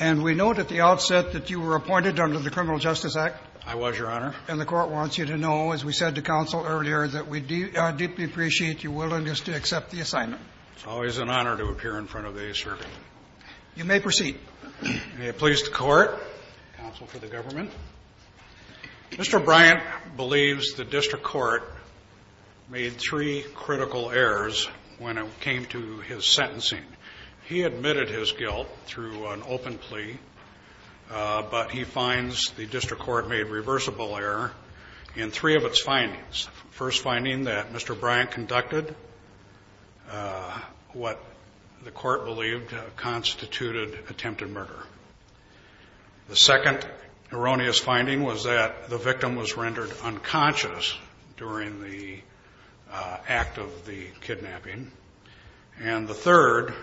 And we note at the outset that you were appointed under the Criminal Justice Act. I was, Your Honor. And the Court wants you to know, as we said to counsel earlier, that we deeply appreciate your willingness to accept the assignment. It's always an honor to appear in front of the circuit. You may proceed. May it please the Court, counsel for the government. Mr. Bryant believes the district court made three critical errors when it came to his sentencing. He admitted his guilt through an open plea, but he finds the district court made reversible error in three of its findings. First finding that Mr. Bryant conducted what the court believed constituted attempted murder. The second erroneous finding was that the victim was rendered unconscious during the act of the kidnapping. And the third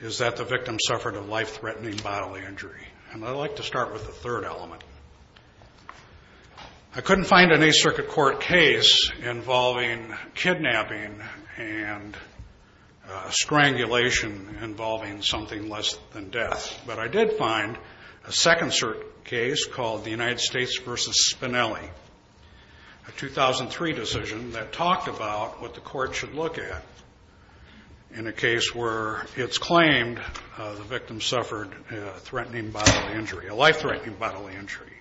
is that the victim suffered a life-threatening bodily injury. And I'd like to start with the third element. I couldn't find any circuit court case involving kidnapping and strangulation involving something less than death. But I did find a second case called the United States versus Spinelli, a 2003 decision that talked about what the court should look at in a case where it's claimed the victim suffered a life-threatening bodily injury.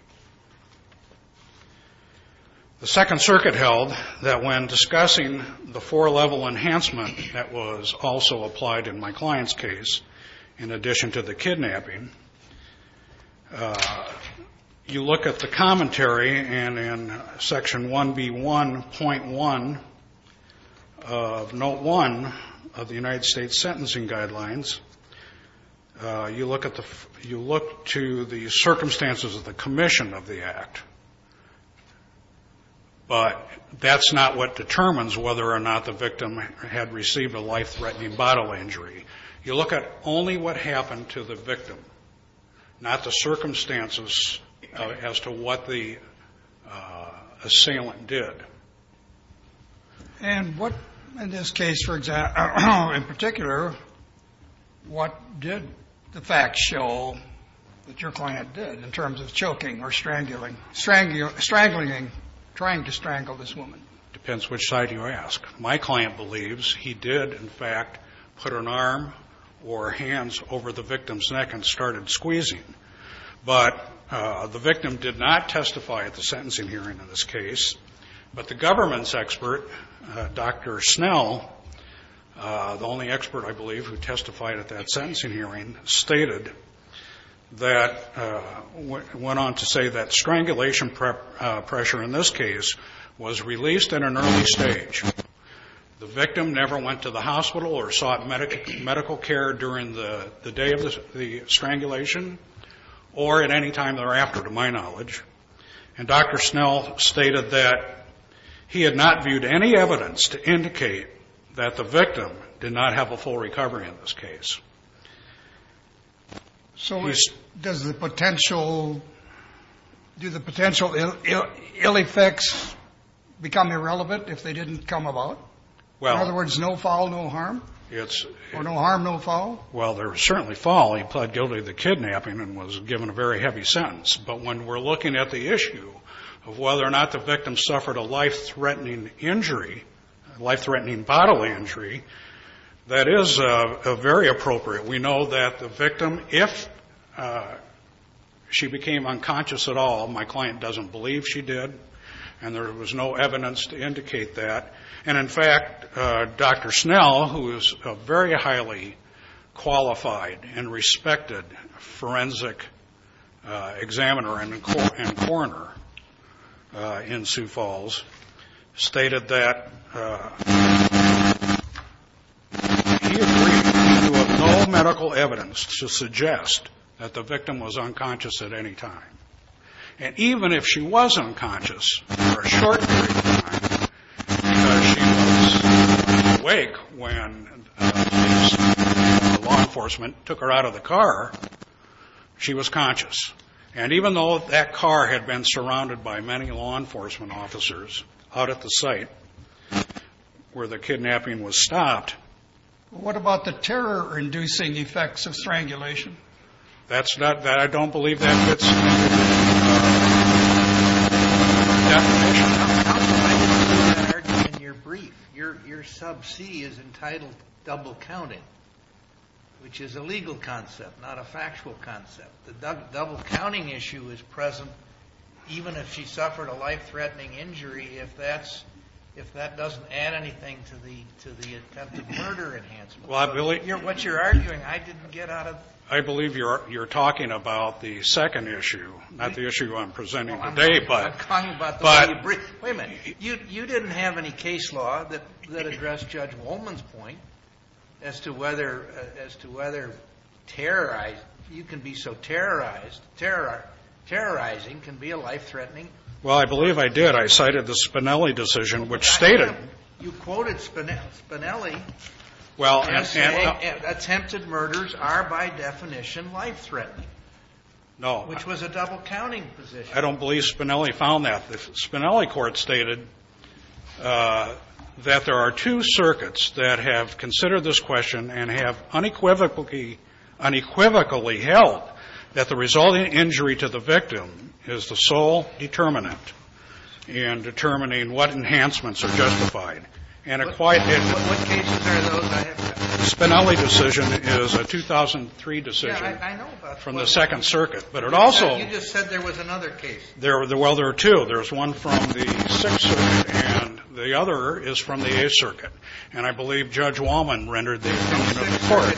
The second circuit held that when discussing the four-level enhancement that was also applied in my client's case, in addition to the kidnapping, you look at the commentary and in section 1B1.1 of note one of the United States sentencing guidelines, you look at the, you look to the circumstances of the commission of the act, but that's not what determines whether or not the victim had received a life-threatening bodily injury. You look at only what happened to the victim, not the circumstances as to what the assailant did. And what, in this case, for example, in particular, what did the facts show that your client did in terms of choking or strangling, trying to strangle this woman? It depends which side you ask. My client believes he did, in fact, put an arm or hands over the victim's neck and started squeezing. But the victim did not testify at the sentencing hearing in this case. But the government's expert, Dr. Snell, the only expert I believe who testified at that sentencing hearing, stated that, went on to say that strangulation pressure in this case was released in an early stage. The victim never went to the hospital or sought medical care during the day of the strangulation. Or at any time thereafter, to my knowledge. And Dr. Snell stated that he had not viewed any evidence to indicate that the victim did not have a full recovery in this case. So does the potential, do the potential ill effects become irrelevant if they didn't come about? Well, in other words, no foul, no harm? It's. Or no harm, no foul? Well, there was certainly foul. He pled guilty to the kidnapping and was given a very heavy sentence. But when we're looking at the issue of whether or not the victim suffered a life threatening injury, life threatening bodily injury, that is a very appropriate. We know that the victim, if she became unconscious at all, my client doesn't believe she did. And there was no evidence to indicate that. And in fact, Dr. Snell, who is a very highly qualified and respected forensic examiner and a court and a coroner in Sioux Falls stated that he agreed to have no medical evidence to suggest that the victim was unconscious at any time. And even if she was unconscious for a short period of time, because she was awake when the law enforcement took her out of the car, she was conscious. And even though that car had been surrounded by many law enforcement officers out at the site where the kidnapping was stopped. What about the terror inducing effects of strangulation? That's not, I don't believe that fits. In your brief, your sub C is entitled double counting, which is a legal concept, not a factual concept. The double counting issue is present even if she suffered a life threatening injury, if that's, if that doesn't add anything to the attempted murder Well, I believe you're, what you're arguing. I didn't get out of, I believe you're, you're talking about the second issue, not the issue I'm presenting today, but, but wait a minute, you, you didn't have any case law that, that addressed judge Wollman's point as to whether, as to whether terrorized, you can be so terrorized terror, terrorizing can be a life threatening. Well, I believe I did. I cited the Spinelli decision, which stated, you quoted Spinelli. Well, and, and attempted murders are by definition life threatening. No, which was a double counting position. I don't believe Spinelli found that the Spinelli court stated that there are two circuits that have considered this question and have unequivocally, unequivocally held that the resulting injury to the victim is the sole determinant and determining what enhancements are justified. And it quite, Spinelli decision is a 2003 decision from the second circuit. But it also, well, there are two. There's one from the sixth circuit and the other is from the eighth circuit. And I believe judge Wollman rendered the court.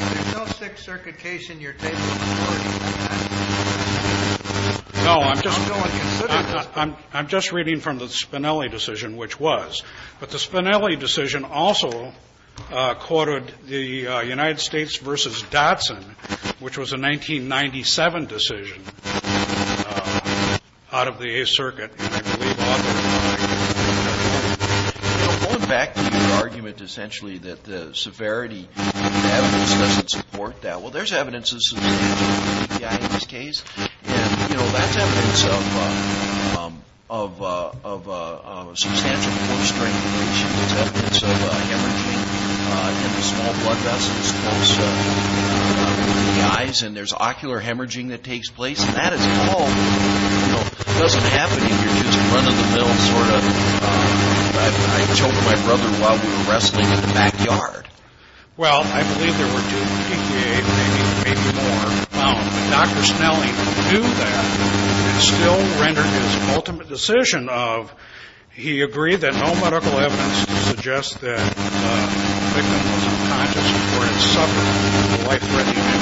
No, I'm just, I'm just reading from the Spinelli decision, which was, but the Spinelli decision also quoted the United States versus Dotson, which was a 1997 decision out of the eighth circuit. Going back to your argument, essentially, that the severity doesn't support that. Well, there's evidence in this case, you know, that's evidence of, of, of a substantial force strain, which is evidence of a hemorrhaging in the small blood vessels close to the eyes. And there's ocular hemorrhaging that takes place and that is all, you know, doesn't happen if you're just in front of the bill, sort of, I, I told my brother while we were wrestling in the backyard. Well, I believe there were two, maybe more, but Dr. Wollman's ultimate decision of, he agreed that no medical evidence to suggest that the victim was unconscious or had suffered a life-threatening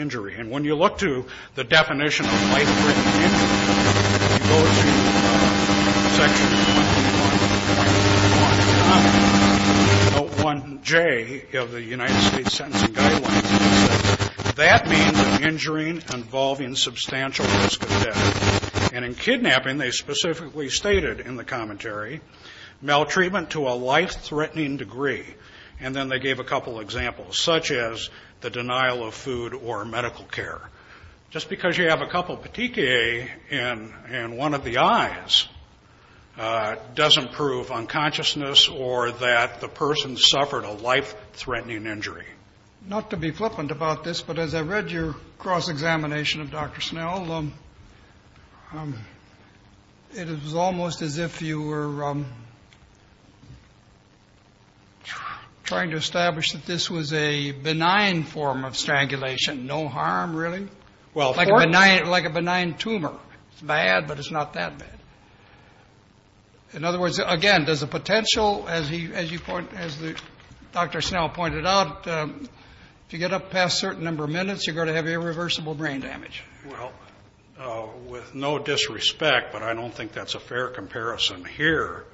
injury. And when you look to the definition of life-threatening injury, you go to section 1.1.1.1J of the United States Sentencing Guidelines, that means an injury involving substantial risk of death. And in kidnapping, they specifically stated in the commentary, maltreatment to a life-threatening degree. And then they gave a couple examples, such as the denial of food or medical care. Just because you have a couple of petechiae in, in one of the eyes, doesn't prove unconsciousness or that the person suffered a life-threatening injury. Not to be flippant about this, but as I read your cross-examination of Dr. Snell, it was almost as if you were trying to establish that this was a benign form of strangulation. No harm, really. Well, like a benign, like a benign tumor. It's bad, but it's not that bad. In other words, again, there's a potential, as you point, as Dr. Snell pointed out, if you get up past a certain number of minutes, you're going to have irreversible brain damage. Well, with no disrespect, but I don't think that's a fair comparison here,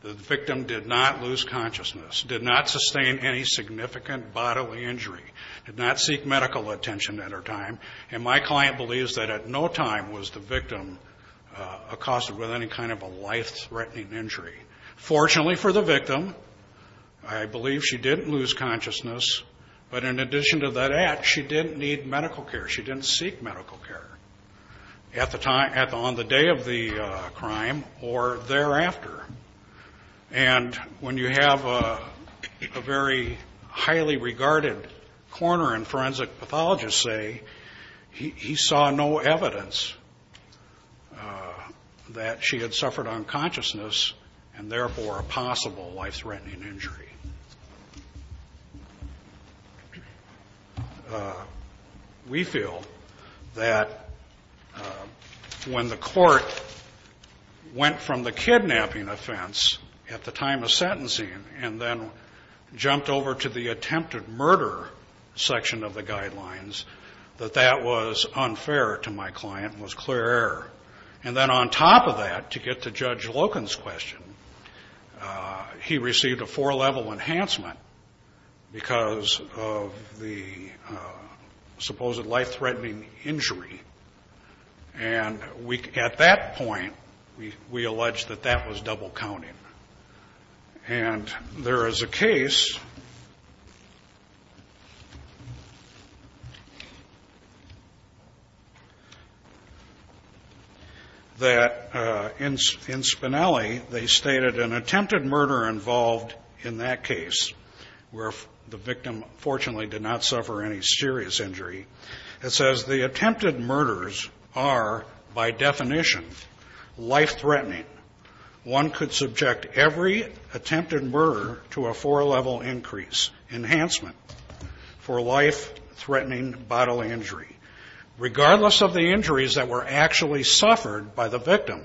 the victim did not lose consciousness, did not sustain any significant bodily injury, did not seek medical attention at her time. And my client believes that at no time was the victim accosted with any kind of a life-threatening injury. Fortunately for the victim, I believe she didn't lose consciousness, but in addition to that act, she didn't need medical care. She didn't seek medical care at the time, on the day of the crime or thereafter. And when you have a very highly regarded coroner and forensic pathologist say he saw no evidence that she had suffered unconsciousness and therefore a possible life threatening injury. We feel that when the court went from the kidnapping offense at the time of sentencing and then jumped over to the attempted murder section of the guidelines, that that was unfair to my client and was clear error. And then on top of that, to get to Judge Loken's question, he received a four level enhancement because of the supposed life-threatening injury. And we, at that point, we, we alleged that that was double counting and there is a case. That in Spinelli, they stated an attempted murder involved in that case, where the victim fortunately did not suffer any serious injury. It says the attempted murders are by definition, life-threatening. One could subject every attempted murder to a four level increase enhancement for life threatening bodily injury. Regardless of the injuries that were actually suffered by the victim,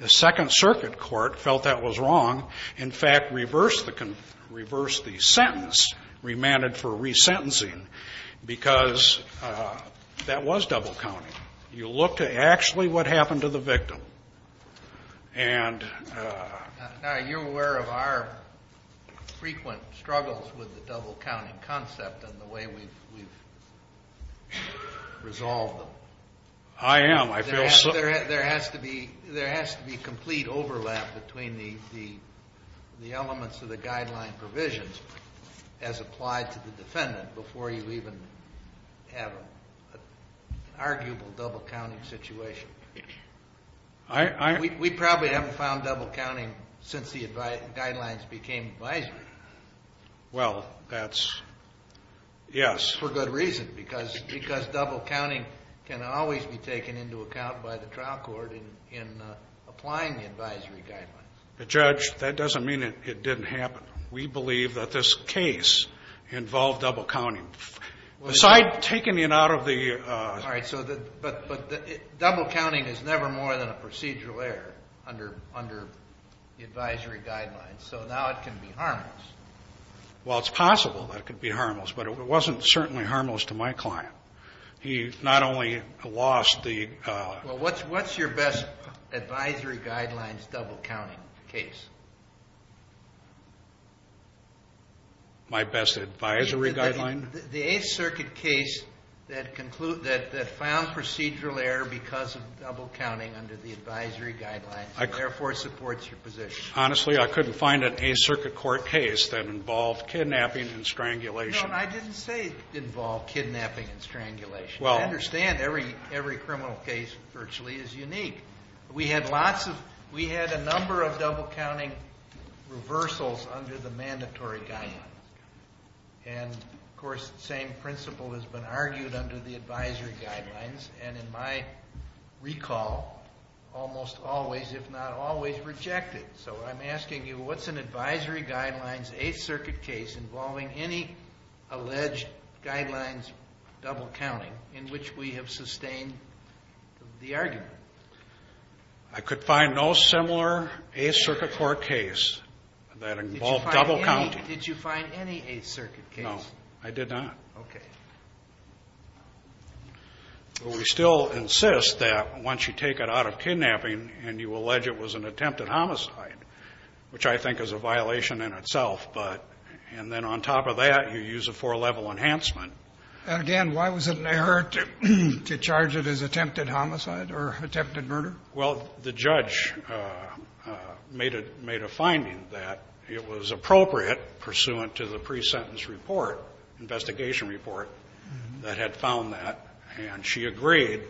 the second circuit court felt that was wrong. In fact, reverse the sentence, remanded for resentencing, because that was double counting. You look to actually what happened to the victim. And you're aware of our frequent struggles with the double counting concept and the way we've resolved them. I am. I feel so. There has to be, there has to be complete overlap between the, the, the elements of the guideline provisions as applied to the defendant before you even have an arguable double counting situation. I, I, we, we probably haven't found double counting since the guidelines became advisory. Well, that's. Yes. For good reason. Because, because double counting can always be taken into account by the trial court in, in applying the advisory guidelines. The judge, that doesn't mean it didn't happen. We believe that this case involved double counting. Beside taking it out of the. All right. So the, but, but double counting is never more than a procedural error under, under the advisory guidelines. So now it can be harmless. Well, it's possible that it could be harmless, but it wasn't certainly harmless to my client. He not only lost the. Well, what's, what's your best advisory guidelines, double counting case? My best advisory guideline? The eighth circuit case that conclude that, that found procedural error because of double counting under the advisory guidelines, therefore supports your position. Honestly, I couldn't find an eighth circuit court case that involved kidnapping and strangulation. No, I didn't say it involved kidnapping and strangulation. I understand every, every criminal case virtually is unique. We had lots of, we had a number of double counting reversals under the mandatory guidelines. And of course, the same principle has been argued under the advisory guidelines and in my recall, almost always, if not always rejected. So I'm asking you, what's an advisory guidelines, eighth circuit case involving any alleged guidelines, double counting in which we have sustained the argument. I could find no similar eighth circuit court case that involved double counting. Did you find any eighth circuit case? No, I did not. Okay. Well, we still insist that once you take it out of kidnapping and you Which I think is a violation in itself. But, and then on top of that, you use a four level enhancement. And again, why was it an error to charge it as attempted homicide or attempted murder? Well, the judge made a, made a finding that it was appropriate pursuant to the pre-sentence report, investigation report that had found that and she agreed.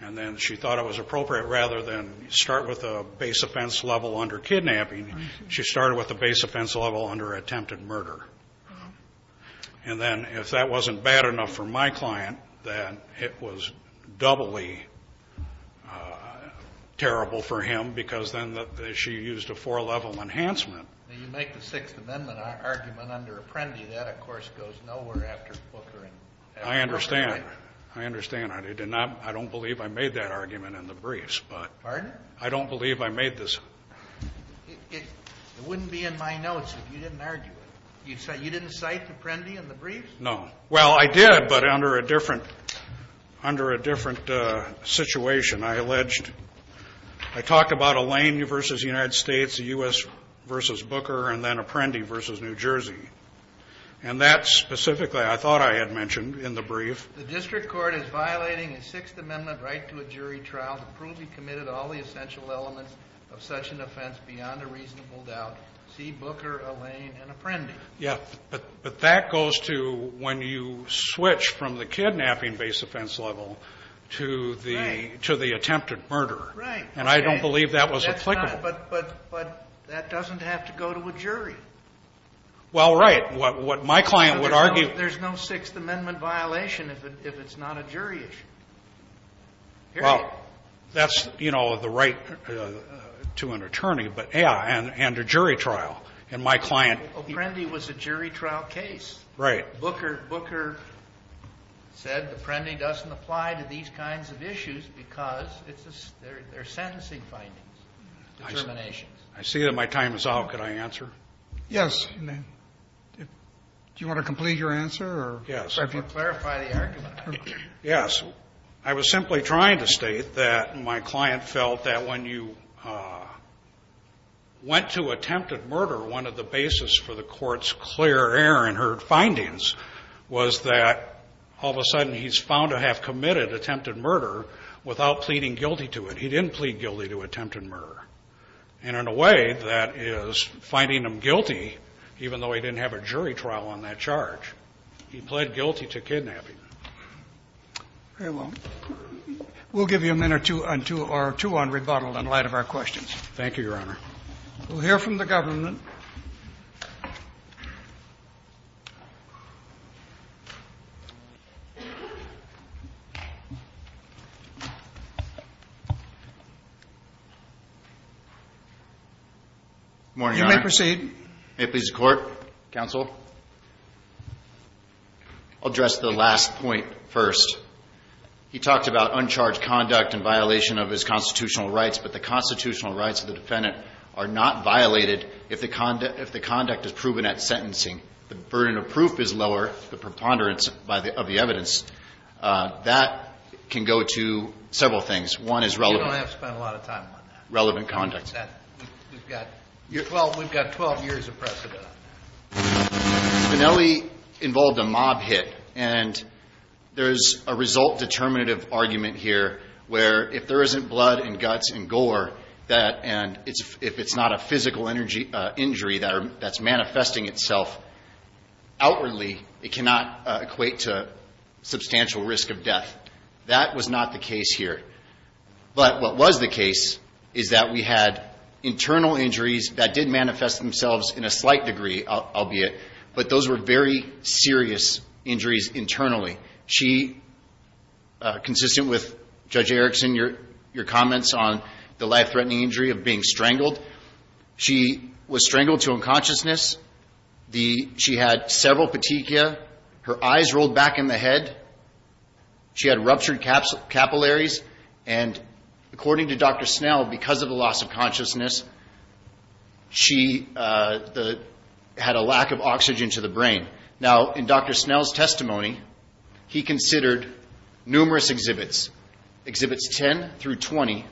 And then she thought it was appropriate rather than start with a base offense level under kidnapping, she started with the base offense level under attempted murder, and then if that wasn't bad enough for my client, then it was doubly terrible for him because then she used a four level enhancement. Now you make the sixth amendment argument under Apprendi. That of course goes nowhere after Booker. I understand. I understand. I did not, I don't believe I made that argument in the briefs, but I don't believe I made this. It wouldn't be in my notes if you didn't argue it. You said you didn't cite Apprendi in the briefs? No. Well, I did, but under a different, under a different situation. I alleged, I talked about Elaine versus United States, the U.S. versus Booker, and then Apprendi versus New Jersey. And that specifically, I thought I had mentioned in the brief. The district court is violating a sixth amendment right to a jury trial to prove he committed all the essential elements of such an offense beyond a reasonable doubt, see Booker, Elaine, and Apprendi. Yeah, but, but that goes to when you switch from the kidnapping based offense level to the, to the attempted murder. Right. And I don't believe that was applicable. But, but, but that doesn't have to go to a jury. Well, right. What, what my client would argue. There's no sixth amendment violation if it, if it's not a jury issue. Well, that's, you know, the right to an attorney, but, yeah, and, and a jury trial. And my client. Apprendi was a jury trial case. Right. Booker, Booker said Apprendi doesn't apply to these kinds of issues because it's a, they're, they're sentencing findings, determinations. I see that my time is out. Could I answer? Yes. Do you want to complete your answer or? Yes. If you clarify the argument. Yes. I was simply trying to state that my client felt that when you went to attempted murder, one of the basis for the court's clear air and heard findings was that all of a sudden he's found to have committed attempted murder without pleading guilty to it, he didn't plead guilty to attempted murder. And in a way that is finding them guilty, even though he didn't have a jury trial on that charge, he pled guilty to kidnapping. Very well. We'll give you a minute or two or two on rebuttal in light of our questions. Thank you, Your Honor. We'll hear from the government. Morning, Your Honor. You may proceed. May it please the court, counsel, I'll address the last point first. He talked about uncharged conduct and violation of his constitutional rights, but the constitutional rights of the defendant are not violated if the conduct is proven at sentencing, the burden of proof is lower, the preponderance by the, of the evidence that can go to several things. One is relevant. You don't have to spend a lot of time on that. Relevant conduct. That we've got, well, we've got 12 years of precedent. So Spinelli involved a mob hit and there's a result determinative argument here where if there isn't blood and guts and gore that, and it's, if it's not a physical energy injury that are, that's manifesting itself outwardly, it cannot equate to substantial risk of death. That was not the case here. But what was the case is that we had internal injuries that did manifest themselves in a slight degree, albeit, but those were very serious injuries internally. She, consistent with Judge Erickson, your, your comments on the life threatening injury of being strangled, she was strangled to unconsciousness. The, she had several petechia, her eyes rolled back in the head. She had ruptured caps, capillaries. And according to Dr. Snell, because of the loss of consciousness, she had a lack of oxygen to the brain. Now in Dr. Snell's testimony, he considered numerous exhibits, exhibits 10 through 20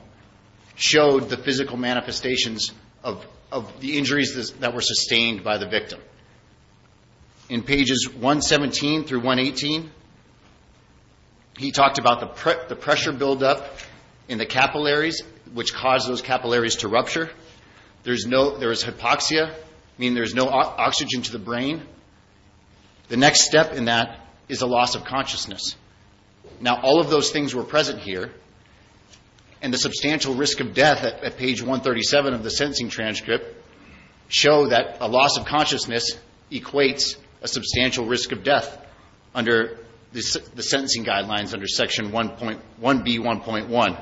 showed the physical manifestations of, of the injuries that were sustained by the victim. In pages 117 through 118, he talked about the pressure buildup in the capillaries, which caused those capillaries to rupture. There's no, there is hypoxia, meaning there's no oxygen to the brain. The next step in that is a loss of consciousness. Now, all of those things were present here and the substantial risk of death at page 137 of the sentencing transcript show that a loss of consciousness equates a substantial risk of death under the sentencing guidelines under section 1.1B1.1.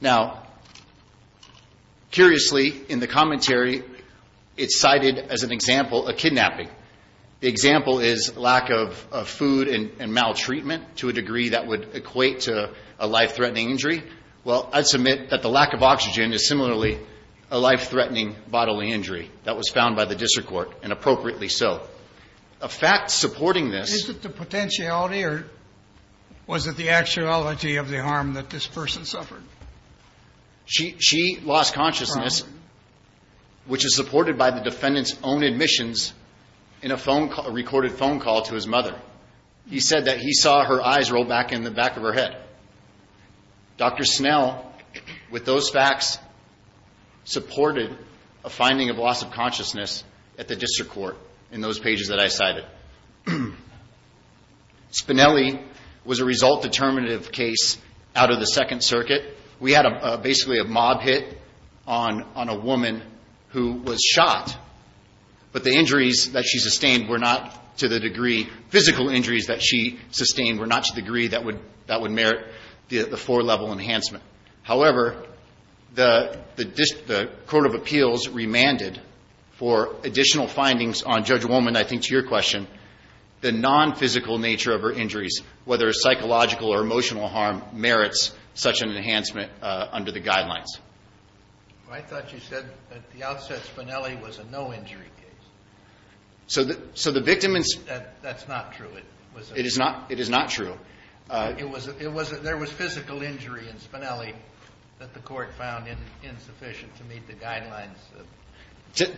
Now, curiously, in the commentary, it's cited as an example of kidnapping. The example is lack of food and maltreatment to a degree that would equate to a life-threatening injury. Well, I'd submit that the lack of oxygen is similarly a life-threatening bodily injury that was found by the district court, and appropriately so. A fact supporting this — What's the actuality of the harm that this person suffered? She lost consciousness, which is supported by the defendant's own admissions in a phone call, a recorded phone call to his mother. He said that he saw her eyes roll back in the back of her head. Dr. Snell, with those facts, supported a finding of loss of consciousness at the district court in those pages that I cited. Now, I would say that Spinelli was a result-determinative case out of the Second Circuit. We had basically a mob hit on a woman who was shot, but the injuries that she sustained were not to the degree — physical injuries that she sustained were not to the degree that would — that would merit the four-level enhancement. However, the court of appeals remanded for additional findings on Judge Woolman, I think to your question, the non-physical nature of her injuries, whether it's psychological or emotional harm, merits such an enhancement under the guidelines. I thought you said at the outset Spinelli was a no-injury case. So the — so the victim — That's not true. It was a — It is not — it is not true. It was — it was — there was physical injury in Spinelli that the court found insufficient to meet the guidelines.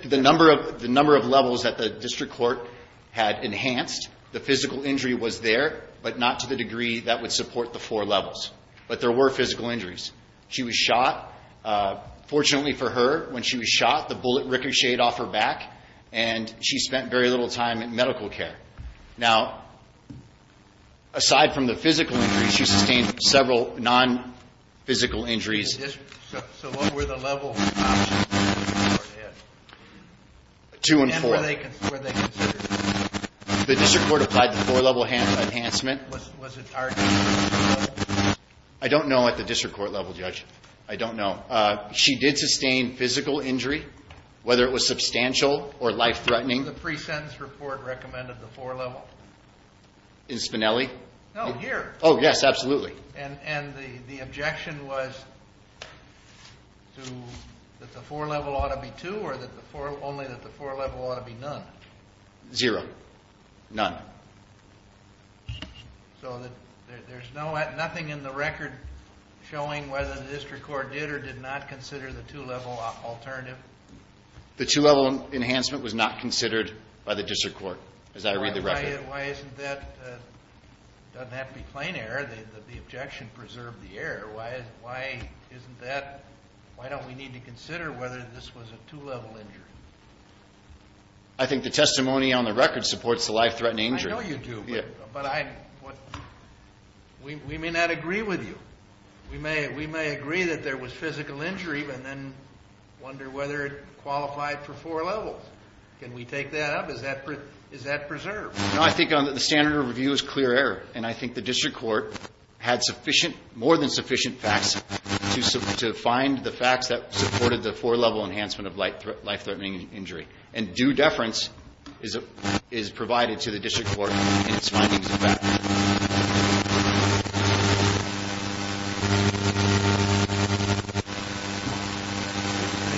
The number of — the number of levels that the district court had enhanced, the physical injury was there, but not to the degree that would support the four levels. But there were physical injuries. She was shot. Fortunately for her, when she was shot, the bullet ricocheted off her back, and she spent very little time in medical care. Now, aside from the physical injuries, she sustained several non-physical injuries. So what were the level of options that the district court had? Two and four. And were they considered — The district court applied the four-level enhancement. Was it arched? I don't know at the district court level, Judge. I don't know. She did sustain physical injury, whether it was substantial or life-threatening. The pre-sentence report recommended the four-level. In Spinelli? No, here. Oh, yes, absolutely. And the objection was to — that the four-level ought to be two, or that the four — only that the four-level ought to be none? Zero. None. So there's nothing in the record showing whether the district court did or did not consider the two-level alternative? The two-level enhancement was not considered by the district court, as I read the record. Why isn't that — doesn't have to be plain error. The objection preserved the error. Why isn't that — why don't we need to consider whether this was a two-level injury? I think the testimony on the record supports the life-threatening injury. I know you do, but I — we may not agree with you. We may agree that there was physical injury, but then wonder whether it qualified for four-levels. Can we take that up? Is that preserved? No, I think the standard of review is clear error. And I think the district court had sufficient — more than sufficient facts to find the facts that supported the four-level enhancement of life-threatening injury. And due deference is provided to the district court in its findings of that. I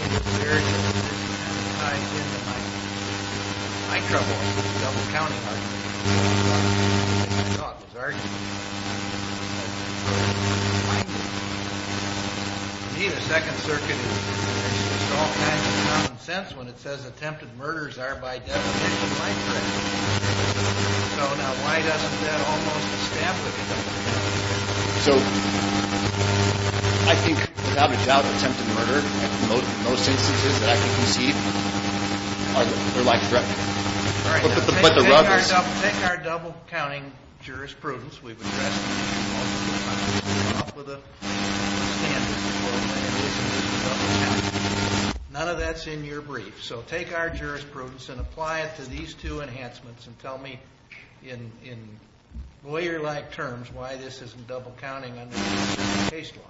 think it's very interesting, and it ties into my — my trouble with the double-counting argument. I saw it was arguable, but I don't think the district court can find it. To me, the Second Circuit is — it makes all kinds of common sense when it says attempted murders are, by definition, life-threatening. So, now, why doesn't that almost establish double-counting? So, I think without a job of attempted murder, most instances that I can conceive are life-threatening. All right, so take our double-counting jurisprudence we've addressed multiple times on top of the standard of the court's analysis of double-counting. None of that's in your brief. So, take our jurisprudence and apply it to these two enhancements and tell me in lawyer-like terms why this isn't double-counting under the case law.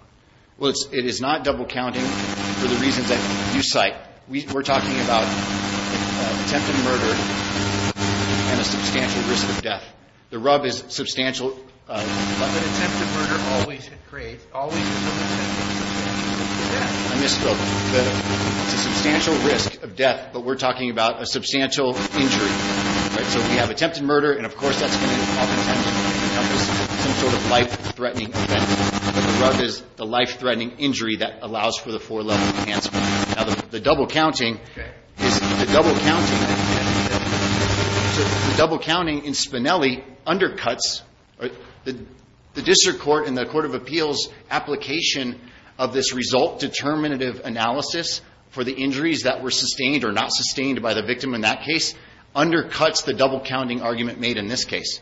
Well, it's — it is not double-counting for the reasons that you cite. We're talking about attempted murder and a substantial risk of death. The rub is substantial — But attempted murder always creates — always is an attempt at substantial risk of death. I missed the — it's a substantial risk of death, but we're talking about a substantial injury. All right, so we have attempted murder, and, of course, that's going to be called attempted murder because it's some sort of life-threatening event. But the rub is the life-threatening injury that allows for the four-level enhancement. Now, the double-counting is — the double-counting — the double-counting in Spinelli undercuts the district court and the court of appeals application of this result-determinative analysis for the injuries that were sustained or not sustained by the victim in that case undercuts the double-counting argument made in this case.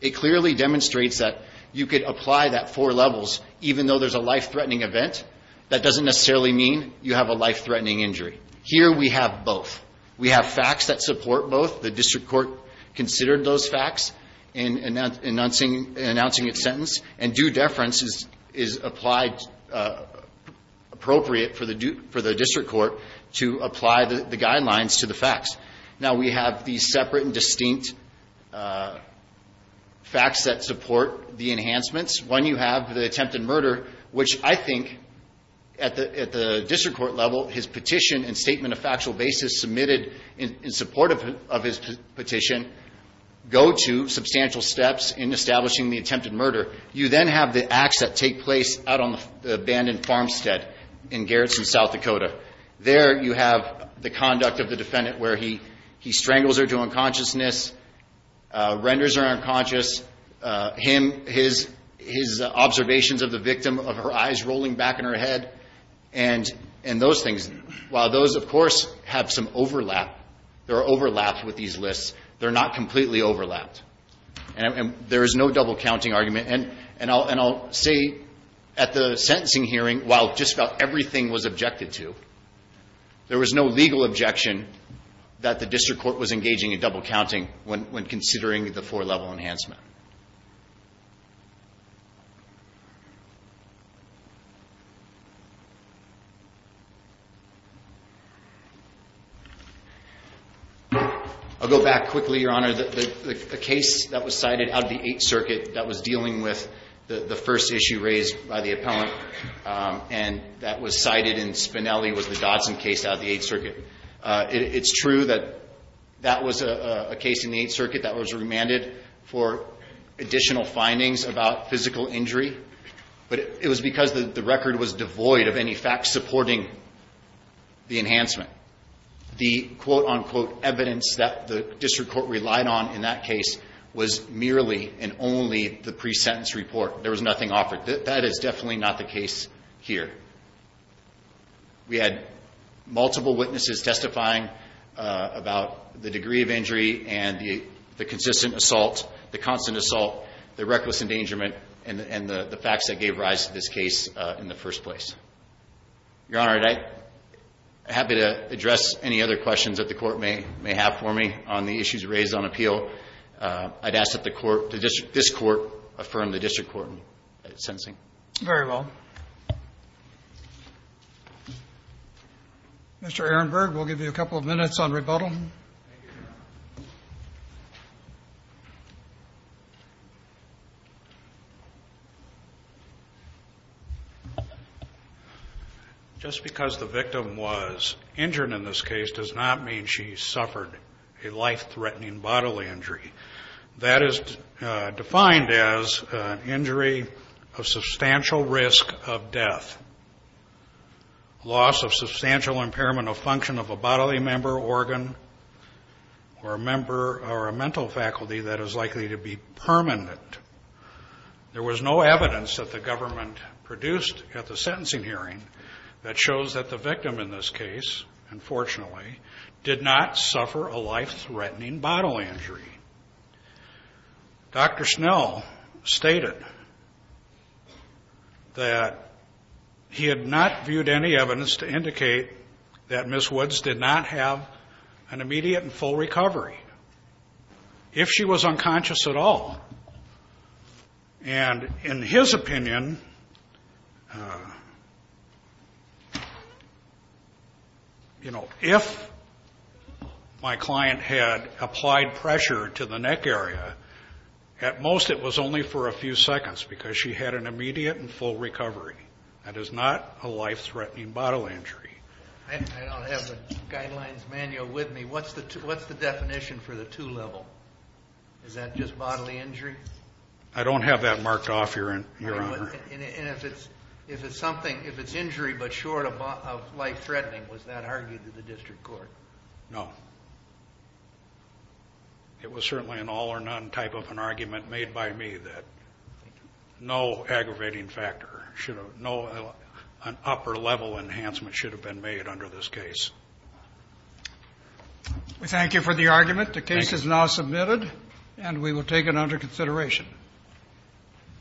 It clearly demonstrates that you could apply that four levels even though there's a life-threatening event. That doesn't necessarily mean you have a life-threatening injury. Here we have both. We have facts that support both. The district court considered those facts in announcing its sentence. And due deference is applied — appropriate for the district court to apply the guidelines to the facts. Now, we have these separate and distinct facts that support the enhancements. One, you have the attempted murder, which I think at the district court level, his petition and statement of factual basis submitted in support of his petition go to substantial steps in establishing the attempted murder. You then have the acts that take place out on the abandoned farmstead in Garrison, South Dakota. There you have the conduct of the defendant where he strangles her to unconsciousness, renders her unconscious, his observations of the victim, of her eyes rolling back in her head, and those things. While those, of course, have some overlap — they're overlapped with these lists, they're not completely overlapped. And there is no double-counting argument. And I'll say at the sentencing hearing, while just about everything was objected to, there was no legal objection that the district court was engaging in double-counting when considering the four-level enhancement. I'll go back quickly, Your Honor. The case that was cited out of the Eighth Circuit that was dealing with the first issue raised by the appellant and that was cited in Spinelli was the Dodson case out of the Eighth Circuit. It's true that that was a case in the Eighth Circuit that was remanded for additional findings about physical injury, but it was because the record was devoid of any facts supporting the enhancement. The quote-unquote evidence that the district court relied on in that case was merely and only the pre-sentence report. There was nothing offered. That is definitely not the case here. We had multiple witnesses testifying about the degree of injury and the consistent assault, the constant assault, the reckless endangerment, and the facts that gave rise to this case in the first place. Your Honor, I'm happy to address any other questions that the Court may have for me on the issues raised on appeal. I'd ask that the Court, this Court, affirm the district court sentencing. Very well. Mr. Ehrenberg, we'll give you a couple of minutes on rebuttal. Just because the victim was injured in this case does not mean she suffered a life-threatening bodily injury. That is defined as an injury of substantial risk of death, loss of substantial impairment of function of a bodily member, organ, or a member or a mental faculty that is likely to be permanent. There was no evidence that the government produced at the sentencing hearing that shows that the victim in this case, unfortunately, did not suffer a life-threatening bodily injury. Dr. Snell stated that he had not viewed any evidence to indicate that Ms. Woods did not have an immediate and full recovery. If she was unconscious at all. And in his opinion, you know, if my client had applied pressure to the neck area, at most it was only for a few seconds because she had an immediate and full recovery. That is not a life-threatening bodily injury. I don't have a guidelines manual with me. What's the definition for the two level? Is that just bodily injury? I don't have that marked off, Your Honor. And if it's something, if it's injury but short of life-threatening, was that argued to the district court? No. It was certainly an all or none type of an argument made by me that no aggravating factor, no upper level enhancement should have been made under this case. Thank you for the argument. The case is now submitted and we will take it under consideration.